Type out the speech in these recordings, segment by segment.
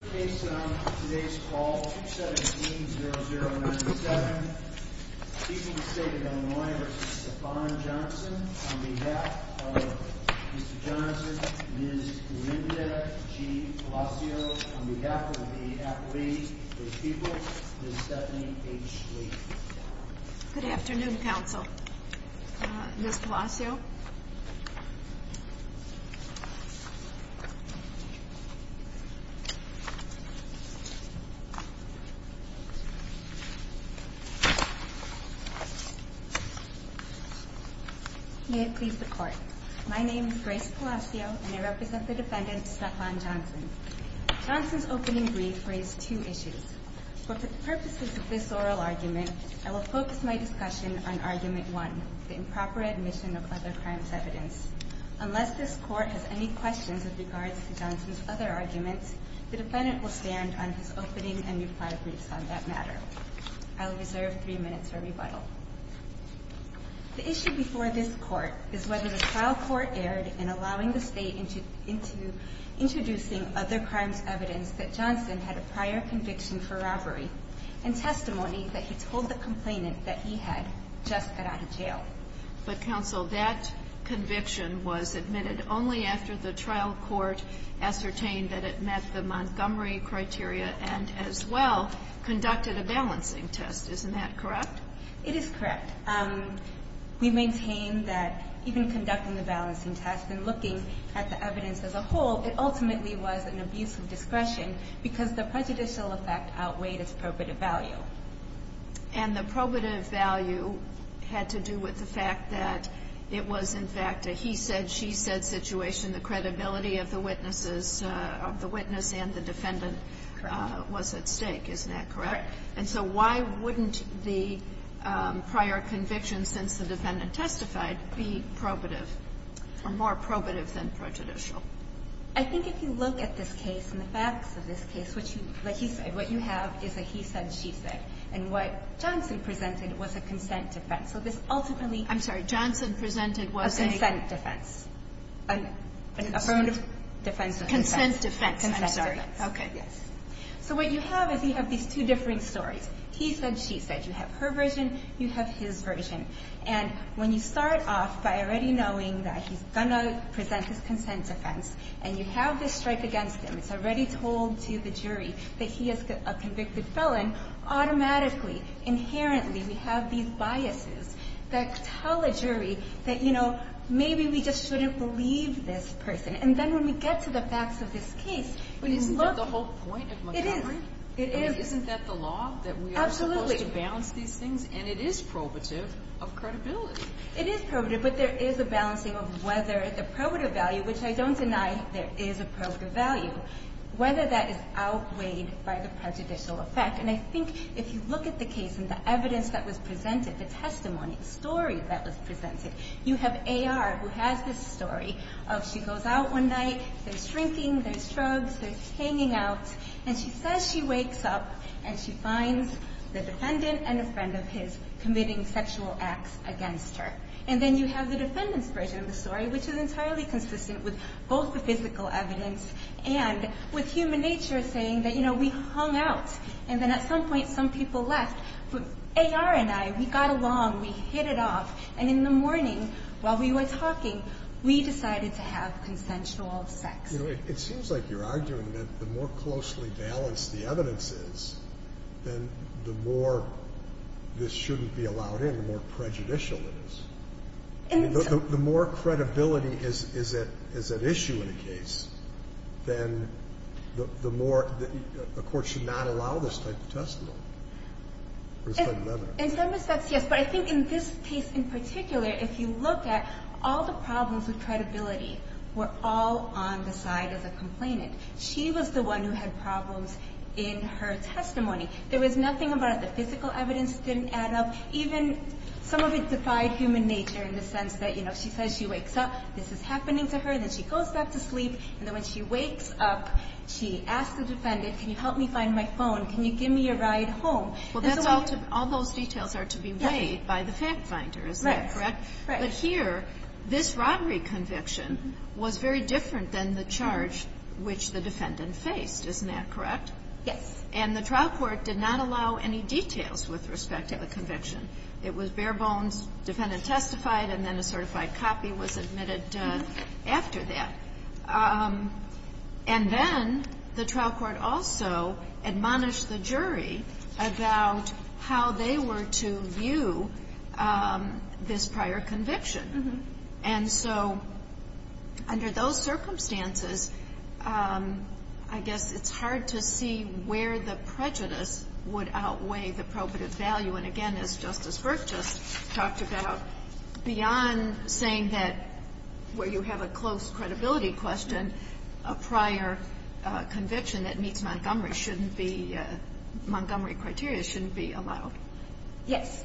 on behalf of Mr. Johnson, Ms. Linda G. Palacio, on behalf of the athletes, the people, Ms. Stephanie H. Schley. Good afternoon, Council. Ms. Palacio? May it please the Court. My name is Grace Palacio, and I represent the defendant, Stephawn Johnson. Johnson's opening brief raised two issues. For the purposes of this oral argument, I will focus my discussion on Argument 1, the improper admission of other crimes evidence. Unless this Court has any questions with regards to Johnson's other arguments, the defendant will stand on his opening and reply briefs on that matter. I will reserve three minutes for rebuttal. The issue before this Court is whether the trial court erred in allowing the State into introducing other crimes evidence that Johnson had a prior conviction for robbery and testimony that he told the complainant that he had just got out of jail. But, Counsel, that conviction was admitted only after the trial court ascertained that it met the Montgomery criteria and, as well, conducted a balancing test. Isn't that correct? It is correct. We maintain that even conducting the balancing test and looking at the evidence as a whole, it ultimately was an abuse of discretion because the prejudicial effect outweighed its probative value. And the probative value had to do with the fact that it was, in fact, a he said, she said situation. The credibility of the witness and the defendant was at stake. Isn't that correct? Correct. And so why wouldn't the prior conviction since the defendant testified be probative or more probative than prejudicial? I think if you look at this case and the facts of this case, like you said, what you have is a he said, she said. And what Johnson presented was a consent defense. So this ultimately – I'm sorry. Johnson presented was a – A consent defense. An affirmative defense of consent. Consent defense. I'm sorry. Okay. Yes. So what you have is you have these two different stories. He said, she said. You have her version. You have his version. And when you start off by already knowing that he's going to present his consent defense and you have this strike against him, it's already told to the jury that he is a convicted felon, automatically, inherently, we have these biases that tell a jury that, you know, maybe we just shouldn't believe this person. And then when we get to the facts of this case, when you look – Isn't that the whole point of Montgomery? It is. It is. I mean, isn't that the law? Absolutely. And it is probative of credibility. It is probative, but there is a balancing of whether the probative value, which I don't deny there is a probative value, whether that is outweighed by the prejudicial effect. And I think if you look at the case and the evidence that was presented, the testimony, the story that was presented, you have A.R. who has this story of she goes out one night, there's shrinking, there's shrugs, there's hanging out, and she says she wakes up and she finds the defendant and a friend of his committing sexual acts against her. And then you have the defendant's version of the story, which is entirely consistent with both the physical evidence and with human nature saying that, you know, we hung out, and then at some point some people left. But A.R. and I, we got along, we hit it off, and in the morning while we were talking, we decided to have consensual sex. It seems like you're arguing that the more closely balanced the evidence is, then the more this shouldn't be allowed in, the more prejudicial it is. I mean, the more credibility is at issue in a case, then the more the court should not allow this type of testimony or this type of evidence. In some respects, yes. But I think in this case in particular, if you look at all the problems with credibility were all on the side of the complainant. She was the one who had problems in her testimony. There was nothing about it. The physical evidence didn't add up. Even some of it defied human nature in the sense that, you know, she says she wakes up, this is happening to her, then she goes back to sleep, and then when she wakes up, she asks the defendant, can you help me find my phone, can you give me a ride home. Well, all those details are to be weighed by the fact finder, is that correct? Right. Right. But here, this robbery conviction was very different than the charge which the defendant faced, isn't that correct? Yes. And the trial court did not allow any details with respect to the conviction. It was bare bones, defendant testified, and then a certified copy was admitted after that. And then the trial court also admonished the jury about how they were to view this prior conviction. And so under those circumstances, I guess it's hard to see where the prejudice would outweigh the probative value. And, again, as Justice Burke just talked about, beyond saying that where you have a close credibility question, a prior conviction that meets Montgomery shouldn't be, Montgomery criteria shouldn't be allowed. Yes.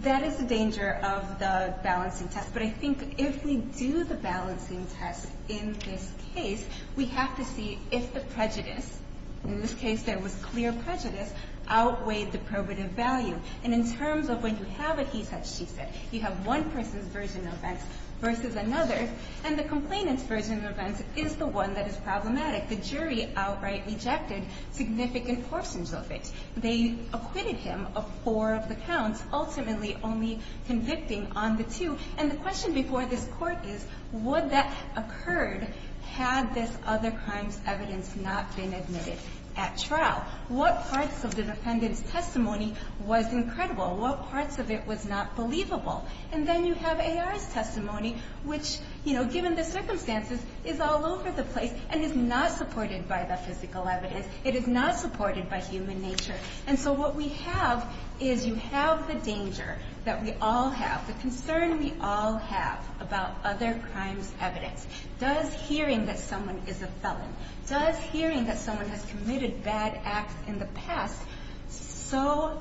That is the danger of the balancing test. But I think if we do the balancing test in this case, we have to see if the prejudice, in this case there was clear prejudice, outweighed the probative value. And in terms of when you have a he said, she said, you have one person's version of events versus another, and the complainant's version of events is the one that is problematic. The jury outright rejected significant portions of it. They acquitted him of four of the counts, ultimately only convicting on the two. And the question before this Court is, would that have occurred had this other crime's evidence not been admitted at trial? What parts of the defendant's testimony was incredible? What parts of it was not believable? And then you have A.R.'s testimony, which, you know, given the circumstances, is all over the place and is not supported by the physical evidence. It is not supported by human nature. And so what we have is you have the danger that we all have, the concern we all have about other crimes' evidence. Does hearing that someone is a felon, does hearing that someone has committed bad acts in the past so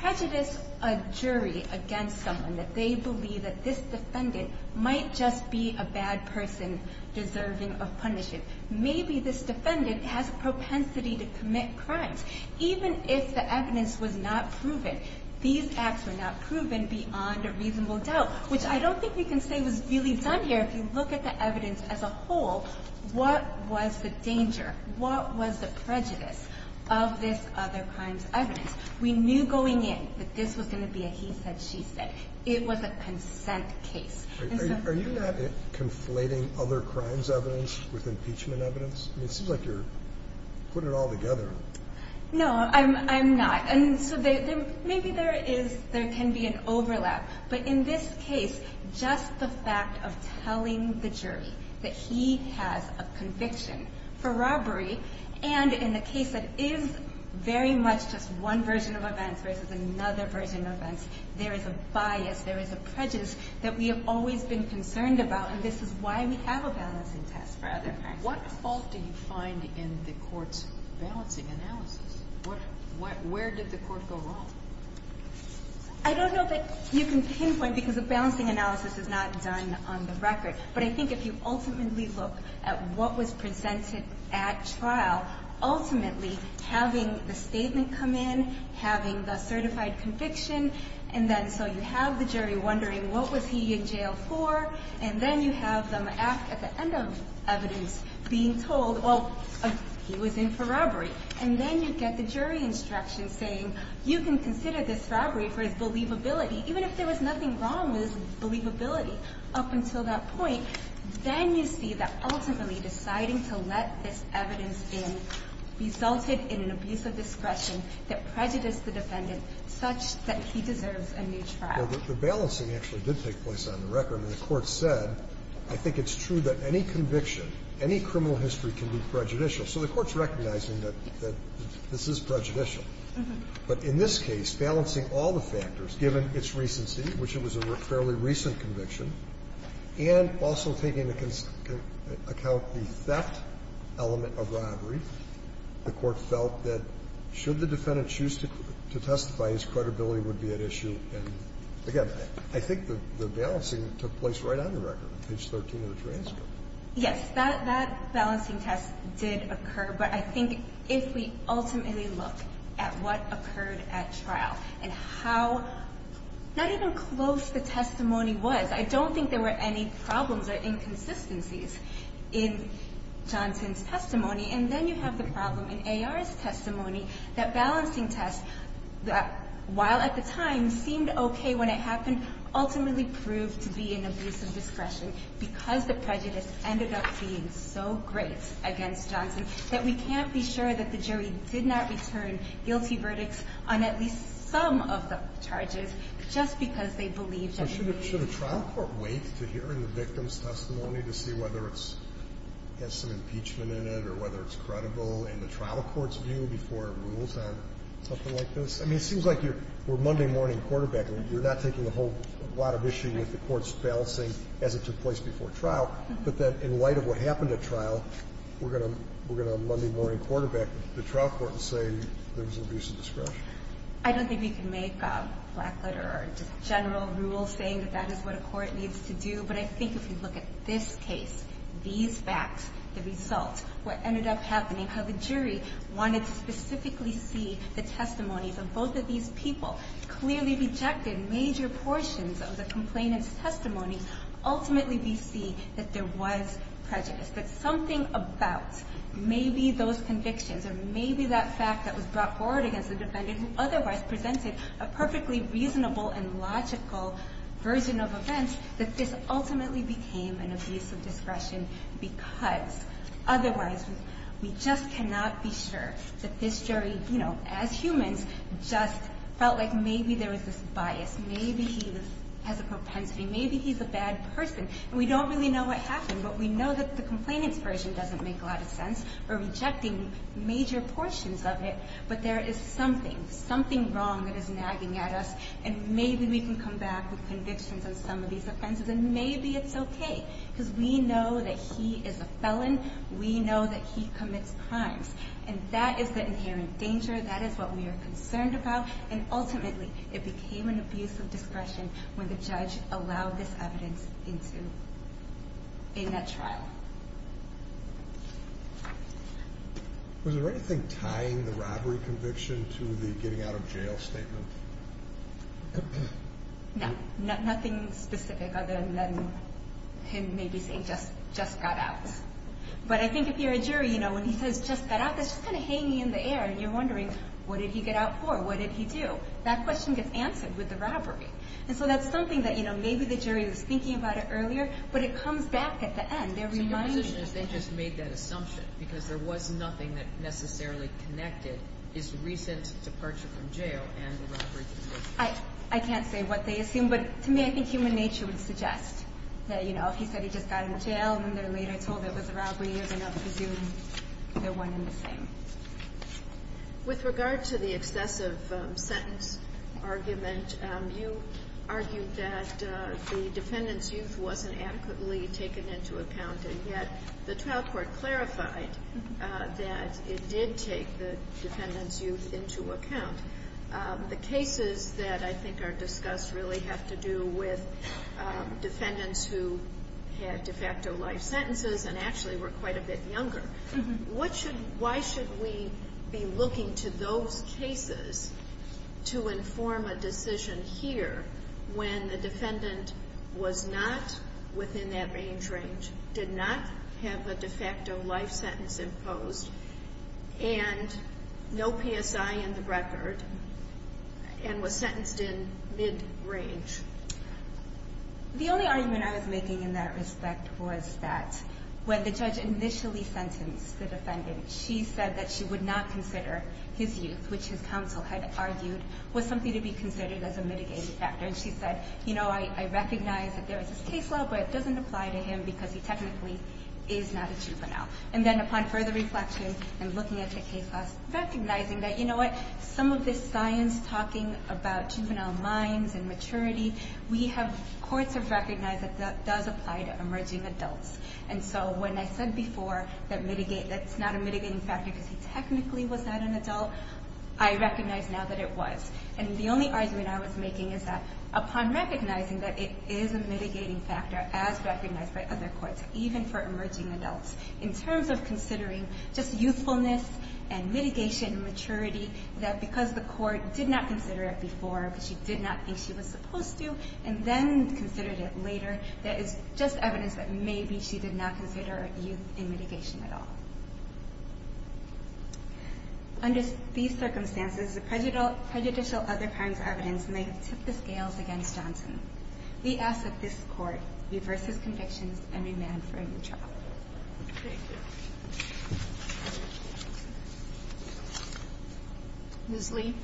prejudice a jury against someone that they believe that this defendant might just be a bad person deserving of punishment? Maybe this defendant has a propensity to commit crimes. Even if the evidence was not proven, these acts were not proven beyond a reasonable doubt, which I don't think we can say was really done here. If you look at the evidence as a whole, what was the danger? What was the prejudice of this other crime's evidence? We knew going in that this was going to be a he said, she said. It was a consent case. Are you not conflating other crime's evidence with impeachment evidence? I mean, it seems like you're putting it all together. No, I'm not. And so maybe there can be an overlap. But in this case, just the fact of telling the jury that he has a conviction for robbery, and in the case that is very much just one version of events versus another version of events, there is a bias, there is a prejudice that we have always been concerned about, and this is why we have a balancing test for other crimes. What fault do you find in the court's balancing analysis? Where did the court go wrong? I don't know that you can pinpoint because the balancing analysis is not done on the record. But I think if you ultimately look at what was presented at trial, ultimately having the statement come in, having the certified conviction, and then so you have the jury wondering what was he in jail for, and then you have them at the end of evidence being told, well, he was in for robbery. And then you get the jury instruction saying, you can consider this robbery for his believability. Even if there was nothing wrong with his believability up until that point, then you see that ultimately deciding to let this evidence in resulted in an abuse of discretion that prejudiced the defendant such that he deserves a new trial. Well, the balancing actually did take place on the record. And the court said, I think it's true that any conviction, any criminal history can be prejudicial. So the Court's recognizing that this is prejudicial. But in this case, balancing all the factors, given its recency, which it was a fairly recent conviction, and also taking into account the theft element of robbery, the Court felt that should the defendant choose to testify, his credibility would be at issue. And, again, I think the balancing took place right on the record, page 13 of the transcript. Yes, that balancing test did occur. But I think if we ultimately look at what occurred at trial and how not even close the testimony was, I don't think there were any problems or inconsistencies in Johnson's testimony. And then you have the problem in A.R.'s testimony, that balancing test, while at the time seemed okay when it happened, ultimately proved to be an abuse of power. And then in the case of Johnson, in which case, as I said, the judge ended up saying this, ended up being so great against Johnson that we can't be sure that the jury did not return guilty verdicts on at least some of the charges just because they believed that it was an abuse of power. Should a trial court wait to hear in the victim's testimony to see whether it's an impeachment in it or whether it's credible in the trial court's view before it rules on something like this? I mean, it seems like we're Monday morning quarterbacking. You're not taking a whole lot of issue with the court's balancing as it took place before trial. But then in light of what happened at trial, we're going to Monday morning quarterback the trial court and say there was an abuse of discretion. I don't think we can make a black letter or just general rule saying that that is what a court needs to do. But I think if you look at this case, these facts, the results, what ended up happening, how the jury wanted to specifically see the testimonies of both of these people, clearly rejected major portions of the complainant's testimony. Ultimately, we see that there was prejudice, that something about maybe those convictions or maybe that fact that was brought forward against the defendant who otherwise presented a perfectly reasonable and logical version of events, that this ultimately became an abuse of discretion because otherwise we just cannot be sure that this jury, you know, as humans, just felt like maybe there was this bias. Maybe he has a propensity. Maybe he's a bad person. And we don't really know what happened. But we know that the complainant's version doesn't make a lot of sense. We're rejecting major portions of it. But there is something, something wrong that is nagging at us. And maybe we can come back with convictions on some of these offenses. And maybe it's okay because we know that he is a felon. We know that he commits crimes. And that is the inherent danger. That is what we are concerned about. And ultimately, it became an abuse of discretion when the judge allowed this evidence in that trial. Was there anything tying the robbery conviction to the getting out of jail statement? No. Nothing specific other than him maybe saying, just got out. But I think if you're a jury, you know, when he says, just got out, that's just kind of hanging in the air. And you're wondering, what did he get out for? What did he do? That question gets answered with the robbery. And so that's something that, you know, maybe the jury was thinking about it earlier. But it comes back at the end. So your position is they just made that assumption because there was nothing that necessarily connected his recent departure from jail and the robbery conviction. I can't say what they assumed. But to me, I think human nature would suggest that, you know, if he said he just got out of jail and then later told there was a robbery, you're going to presume they're one and the same. With regard to the excessive sentence argument, you argued that the defendant's youth wasn't adequately taken into account. And yet the trial court clarified that it did take the defendant's youth into account. The cases that I think are discussed really have to do with defendants who had de facto life sentences and actually were quite a bit younger. Why should we be looking to those cases to inform a decision here when the defendant was not within that range range, did not have a de facto life sentence imposed, and no PSI in the record, and was sentenced in mid-range? The only argument I was making in that respect was that when the judge initially sentenced the defendant, she said that she would not consider his youth, which his counsel had argued was something to be considered as a mitigating factor. And she said, you know, I recognize that there is this case law, but it doesn't apply to him because he technically is not a juvenile. And then upon further reflection and looking at the case law, recognizing that, you know what, some of this science talking about juvenile minds and maturity, courts have recognized that that does apply to emerging adults. And so when I said before that mitigate, that's not a mitigating factor because he technically was not an adult, I recognize now that it was. And the only argument I was making is that upon recognizing that it is a mitigating factor as recognized by other courts, even for emerging adults in terms of considering just youthfulness and mitigation and maturity, that because the court did not consider it before because she did not think she was supposed to, and then considered it later, that is just evidence that maybe she did not consider a youth in mitigation at all. Under these circumstances, the prejudicial other crimes evidence may have tipped the scales against Johnson. We ask that this court reverse his convictions and remand for a new trial. Thank you. Ms. Lee.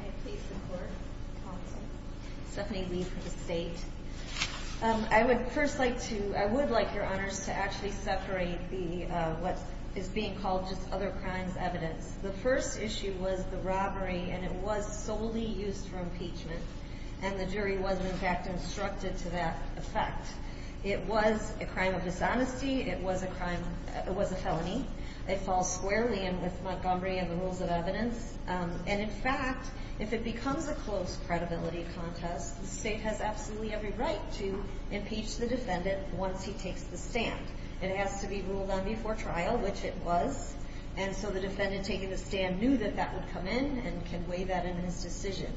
I have case in court. Stephanie Lee for the state. I would first like to, I would like your honors to actually separate the, what is being called just other crimes evidence. The first issue was the robbery and it was solely used for impeachment. And the jury was in fact instructed to that effect. It was a crime of dishonesty. It was a crime. It was a felony. It falls squarely in with Montgomery and the rules of evidence. And in fact, if it becomes a close credibility contest, the state has absolutely every right to impeach the defendant. Once he takes the stand, it has to be ruled on before trial, which it was. And so the defendant taking the stand knew that that would come in and can weigh that in his decision.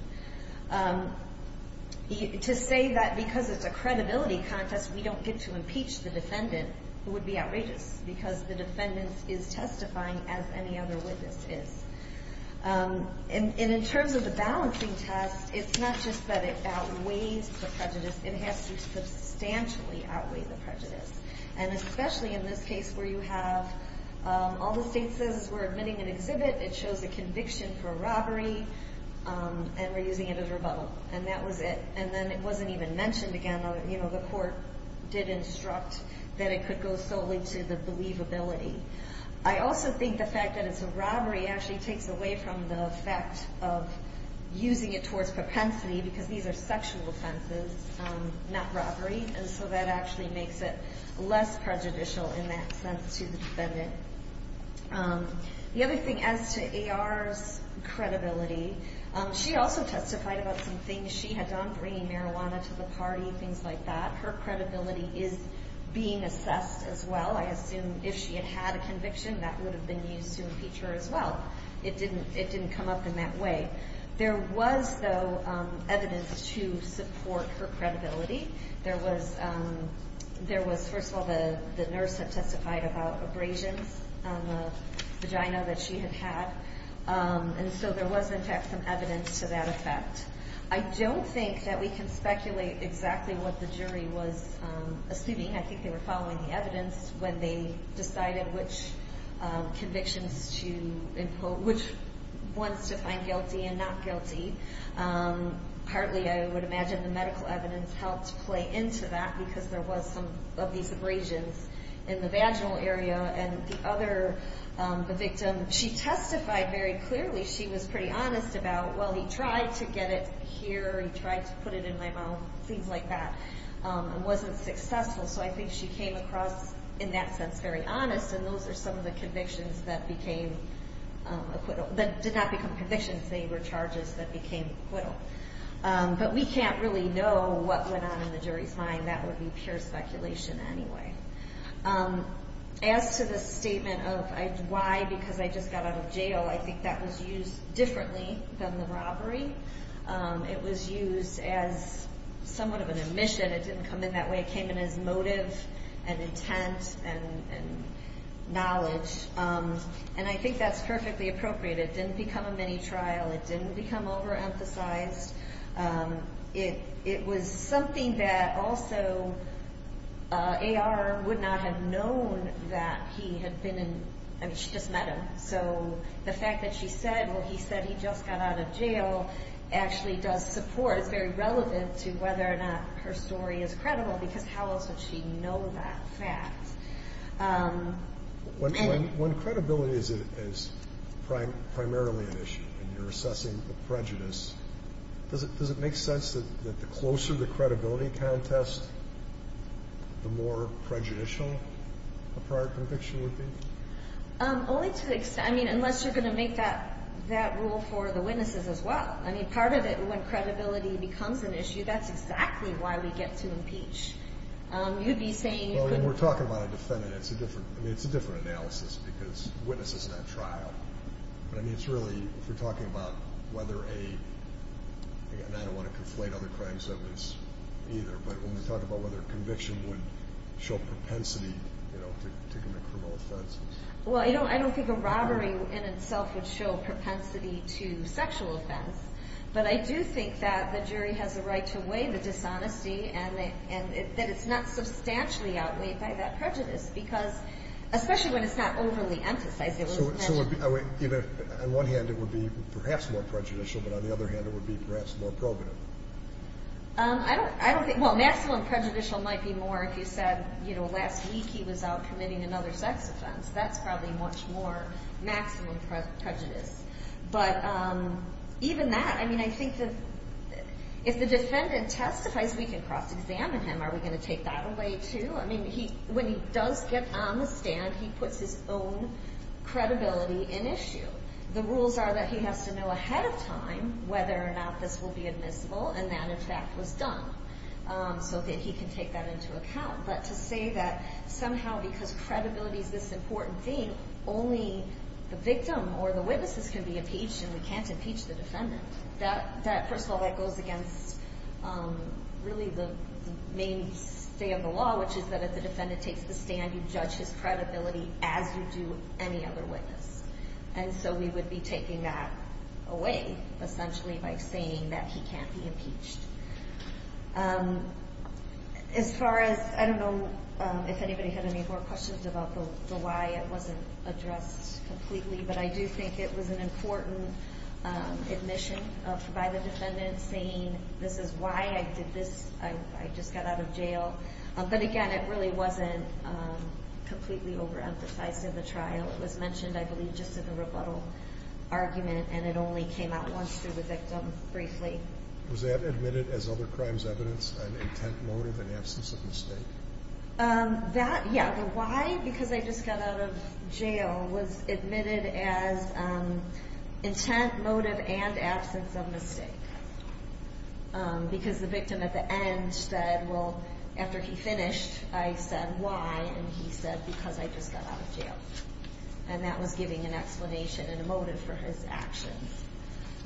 To say that because it's a credibility contest, we don't get to impeach the defendant. It would be outrageous because the defendants is testifying as any other witnesses. And in terms of the balancing test, it's not just that it outweighs the prejudice. It has to substantially outweigh the prejudice. And especially in this case where you have all the state says we're admitting an exhibit. It shows a conviction for robbery. And we're using it as rebuttal. And that was it. And then it wasn't even mentioned again. You know, the court did instruct that it could go solely to the believability. I also think the fact that it's a robbery actually takes away from the fact of using it towards propensity because these are sexual offenses, not robbery. And so that actually makes it less prejudicial in that sense to the defendant. The other thing as to AR's credibility, she also testified about some things she had done, bringing marijuana to the party, things like that. Her credibility is being assessed as well. I assume if she had had a conviction that would have been used to impeach her as well. It didn't come up in that way. There was though evidence to support her credibility. There was, first of all, the nurse had testified about abrasions on the vagina that she had had. And so there was in fact some evidence to that effect. I don't think that we can speculate exactly what the jury was assuming. I think they were following the evidence when they decided which convictions to impose, which ones to find guilty and not guilty. Partly I would imagine the medical evidence helped play into that because there was some of these abrasions in the vaginal area. And the other, the victim, she testified very clearly. She was pretty honest about, well, he tried to get it here. He tried to put it in my mouth, things like that. It wasn't successful. So I think she came across in that sense very honest. And those are some of the convictions that became acquittal, that did not become convictions. They were charges that became acquittal. But we can't really know what went on in the jury's mind. That would be pure speculation anyway. As to the statement of why, because I just got out of jail, I think that was used differently than the robbery. It was used as somewhat of an admission. It didn't come in that way. It came in as motive and intent and knowledge. And I think that's perfectly appropriate. It didn't become a mini trial. It didn't become overemphasized. It was something that also AR would not have known that he had been in, I mean, she just met him. So the fact that she said, well, he said he just got out of jail, actually does support, it's very relevant to whether or not her story is credible, because how else would she know that fact? When credibility is primarily an issue, and you're assessing a prejudice, does it make sense that the closer the credibility contest, the more prejudicial a prior conviction would be? Only to the extent, I mean, unless you're going to make that rule for the witnesses as well. I mean, part of it, when credibility becomes an issue, that's exactly why we get to impeach. You'd be saying you could. Well, when we're talking about a defendant, it's a different analysis, because the witness is not trial. But, I mean, it's really, if we're talking about whether a, and I don't want to conflate other crimes of this either, but when we talk about whether a conviction would show propensity to commit a criminal offense. Well, I don't think a robbery in itself would show propensity to sexual offense, but I do think that the jury has a right to weigh the dishonesty and that it's not substantially outweighed by that prejudice, because, especially when it's not overly emphasized. So on one hand, it would be perhaps more prejudicial, but on the other hand, it would be perhaps more probative. I don't think, well, maximum prejudicial might be more if you said, you know, last week he was out committing another sex offense. That's probably much more maximum prejudice. But even that, I mean, I think if the defendant testifies, we can cross-examine him. Are we going to take that away too? I mean, when he does get on the stand, he puts his own credibility in issue. The rules are that he has to know ahead of time whether or not this will be admissible, and that, in fact, was done, so that he can take that into account. But to say that somehow because credibility is this important thing, only the victim or the witnesses can be impeached and we can't impeach the defendant, that, first of all, that goes against really the main stay of the law, which is that if the defendant takes the stand, you judge his credibility as you do any other witness. And so we would be taking that away, essentially, by saying that he can't be impeached. As far as, I don't know if anybody had any more questions about the why it wasn't addressed completely, but I do think it was an important admission by the defendant saying, this is why I did this, I just got out of jail. But, again, it really wasn't completely overemphasized in the trial. It was mentioned, I believe, just in the rebuttal argument, and it only came out once through the victim briefly. Was that admitted as other crimes evidenced, an intent motive, an absence of mistake? That, yeah, the why, because I just got out of jail, was admitted as intent motive and absence of mistake. Because the victim at the end said, well, after he finished, I said why, and he said because I just got out of jail. And that was giving an explanation and a motive for his actions.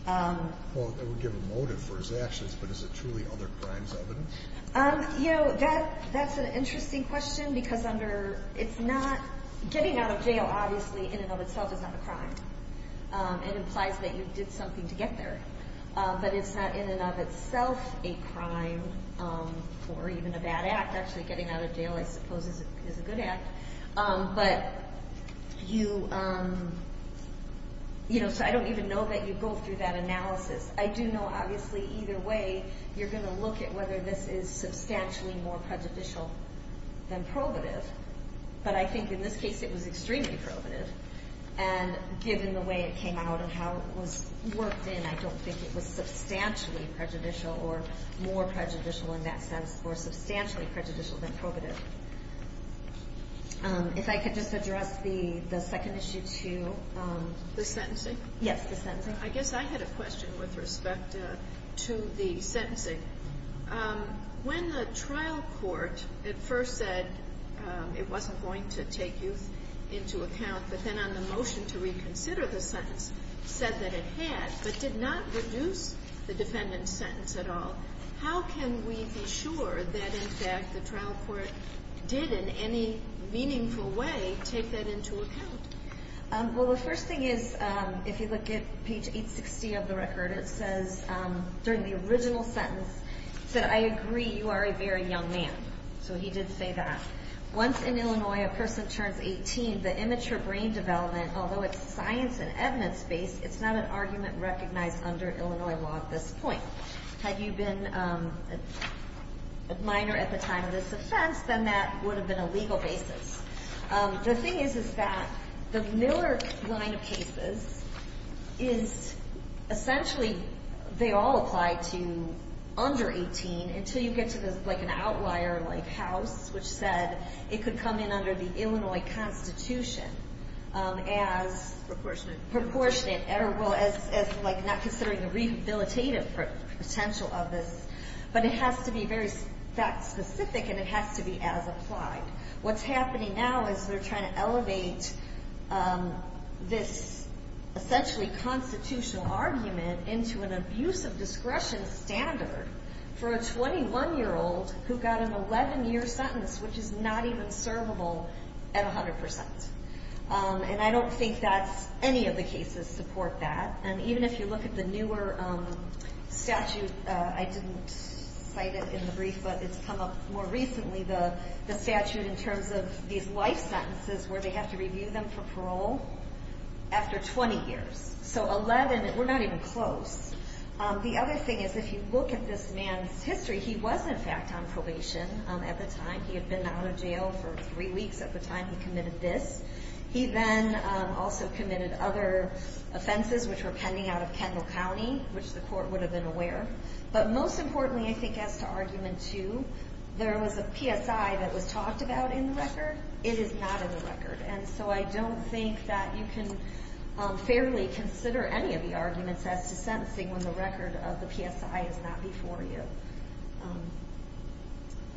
Well, it would give a motive for his actions, but is it truly other crimes evidence? You know, that's an interesting question, because under, it's not, getting out of jail, obviously, in and of itself is not a crime. It implies that you did something to get there. But it's not in and of itself a crime or even a bad act. Actually, getting out of jail, I suppose, is a good act. But you, you know, so I don't even know that you go through that analysis. I do know, obviously, either way, you're going to look at whether this is substantially more prejudicial than probative. But I think in this case, it was extremely probative. And given the way it came out and how it was worked in, I don't think it was substantially prejudicial or more prejudicial in that sense, or substantially prejudicial than probative. If I could just address the second issue, too. The sentencing? Yes, the sentencing. I guess I had a question with respect to the sentencing. When the trial court at first said it wasn't going to take youth into account, but then on the motion to reconsider the sentence said that it had, but did not reduce the defendant's sentence at all, how can we be sure that, in fact, the trial court did in any meaningful way take that into account? Well, the first thing is, if you look at page 860 of the record, it says, during the original sentence, it said, I agree you are a very young man. So he did say that. Once in Illinois, a person turns 18, the immature brain development, although it's science and evidence based, it's not an argument recognized under Illinois law at this point. Had you been a minor at the time of this offense, then that would have been a legal basis. The thing is, is that the Miller line of cases is essentially, they all apply to under 18, until you get to like an outlier like House, which said it could come in under the Illinois Constitution as Proportionate. Proportionate. Well, as like not considering the rehabilitative potential of this. But it has to be very fact specific, and it has to be as applied. What's happening now is they're trying to elevate this essentially constitutional argument into an abusive discretion standard for a 21-year-old who got an 11-year sentence, which is not even servable at 100%. And I don't think that any of the cases support that. And even if you look at the newer statute, I didn't cite it in the brief, but it's come up more recently, the statute in terms of these life sentences where they have to review them for parole after 20 years. So 11, we're not even close. The other thing is if you look at this man's history, he was in fact on probation at the time. He had been out of jail for three weeks at the time he committed this. He then also committed other offenses which were pending out of Kendall County, which the court would have been aware. But most importantly, I think as to argument two, there was a PSI that was talked about in the record. It is not in the record. And so I don't think that you can fairly consider any of the arguments as to sentencing when the record of the PSI is not before you.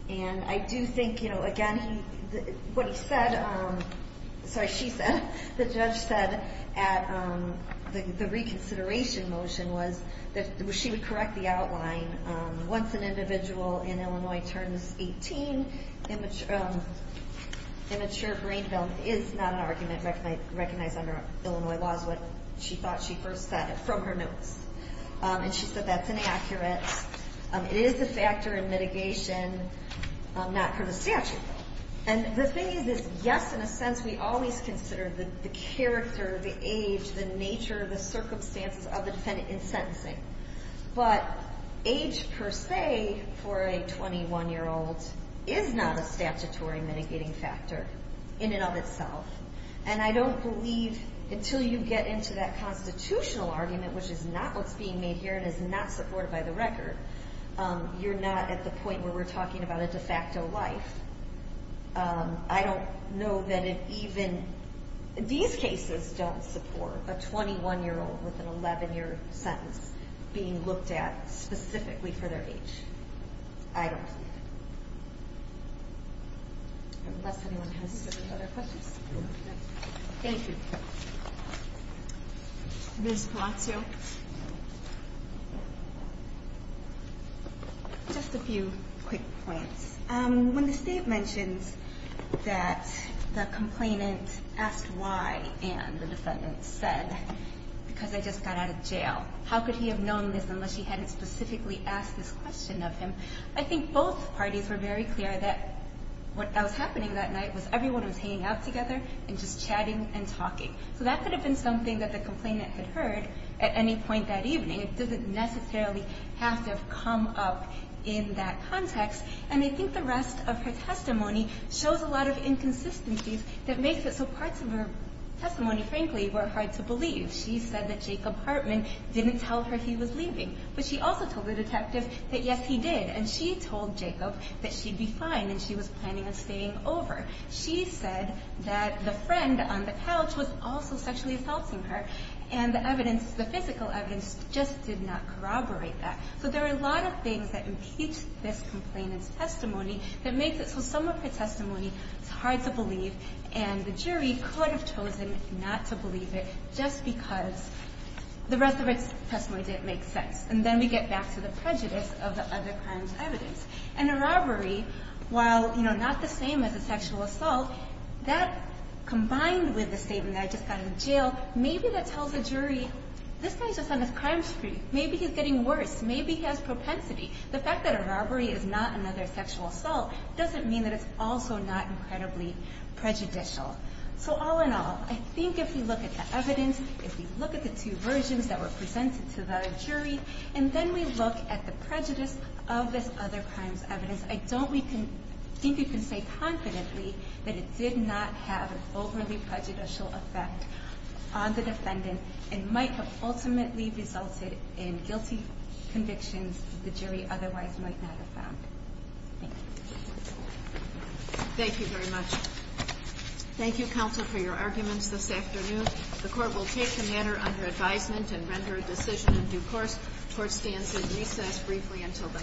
And I do think, you know, again, what he said, sorry, she said, the judge said at the reconsideration motion was that she would correct the outline. Once an individual in Illinois turns 18, immature brain development is not an argument recognized under Illinois laws, what she thought she first said from her notes. And she said that's inaccurate. It is a factor in mitigation, not for the statute. And the thing is, yes, in a sense, we always consider the character, the age, the nature, the circumstances of the defendant in sentencing. But age per se for a 21-year-old is not a statutory mitigating factor in and of itself. And I don't believe until you get into that constitutional argument, which is not what's being made here and is not supported by the record, you're not at the point where we're talking about a de facto life. I don't know that it even, these cases don't support a 21-year-old with an 11-year sentence being looked at specifically for their age. I don't think. Unless anyone has other questions. Thank you. Ms. Palazzo. Hi. Just a few quick points. When the state mentions that the complainant asked why, and the defendant said, because I just got out of jail, how could he have known this unless he hadn't specifically asked this question of him? I think both parties were very clear that what was happening that night was everyone was hanging out together and just chatting and talking. So that could have been something that the complainant had heard at any point that evening. It doesn't necessarily have to have come up in that context. And I think the rest of her testimony shows a lot of inconsistencies that makes it so parts of her testimony, frankly, were hard to believe. She said that Jacob Hartman didn't tell her he was leaving. But she also told the detective that, yes, he did. And she told Jacob that she'd be fine and she was planning on staying over. She said that the friend on the couch was also sexually assaulting her. And the evidence, the physical evidence, just did not corroborate that. So there are a lot of things that impeach this complainant's testimony that makes it so some of her testimony is hard to believe. And the jury could have chosen not to believe it just because the rest of her testimony didn't make sense. And then we get back to the prejudice of the other crime's evidence. And a robbery, while not the same as a sexual assault, that combined with the statement that I just got in jail, maybe that tells a jury this guy's just on his crime spree. Maybe he's getting worse. Maybe he has propensity. The fact that a robbery is not another sexual assault doesn't mean that it's also not incredibly prejudicial. So all in all, I think if you look at the evidence, if you look at the two versions that were presented to the jury, and then we look at the prejudice of this other crime's evidence, I don't think you can say confidently that it did not have an overly prejudicial effect on the defendant and might have ultimately resulted in guilty convictions the jury otherwise might not have found. Thank you. Thank you very much. Thank you, counsel, for your arguments this afternoon. The Court will take the matter under advisement and render a decision in due course. The Court stands at recess briefly until the next hearing.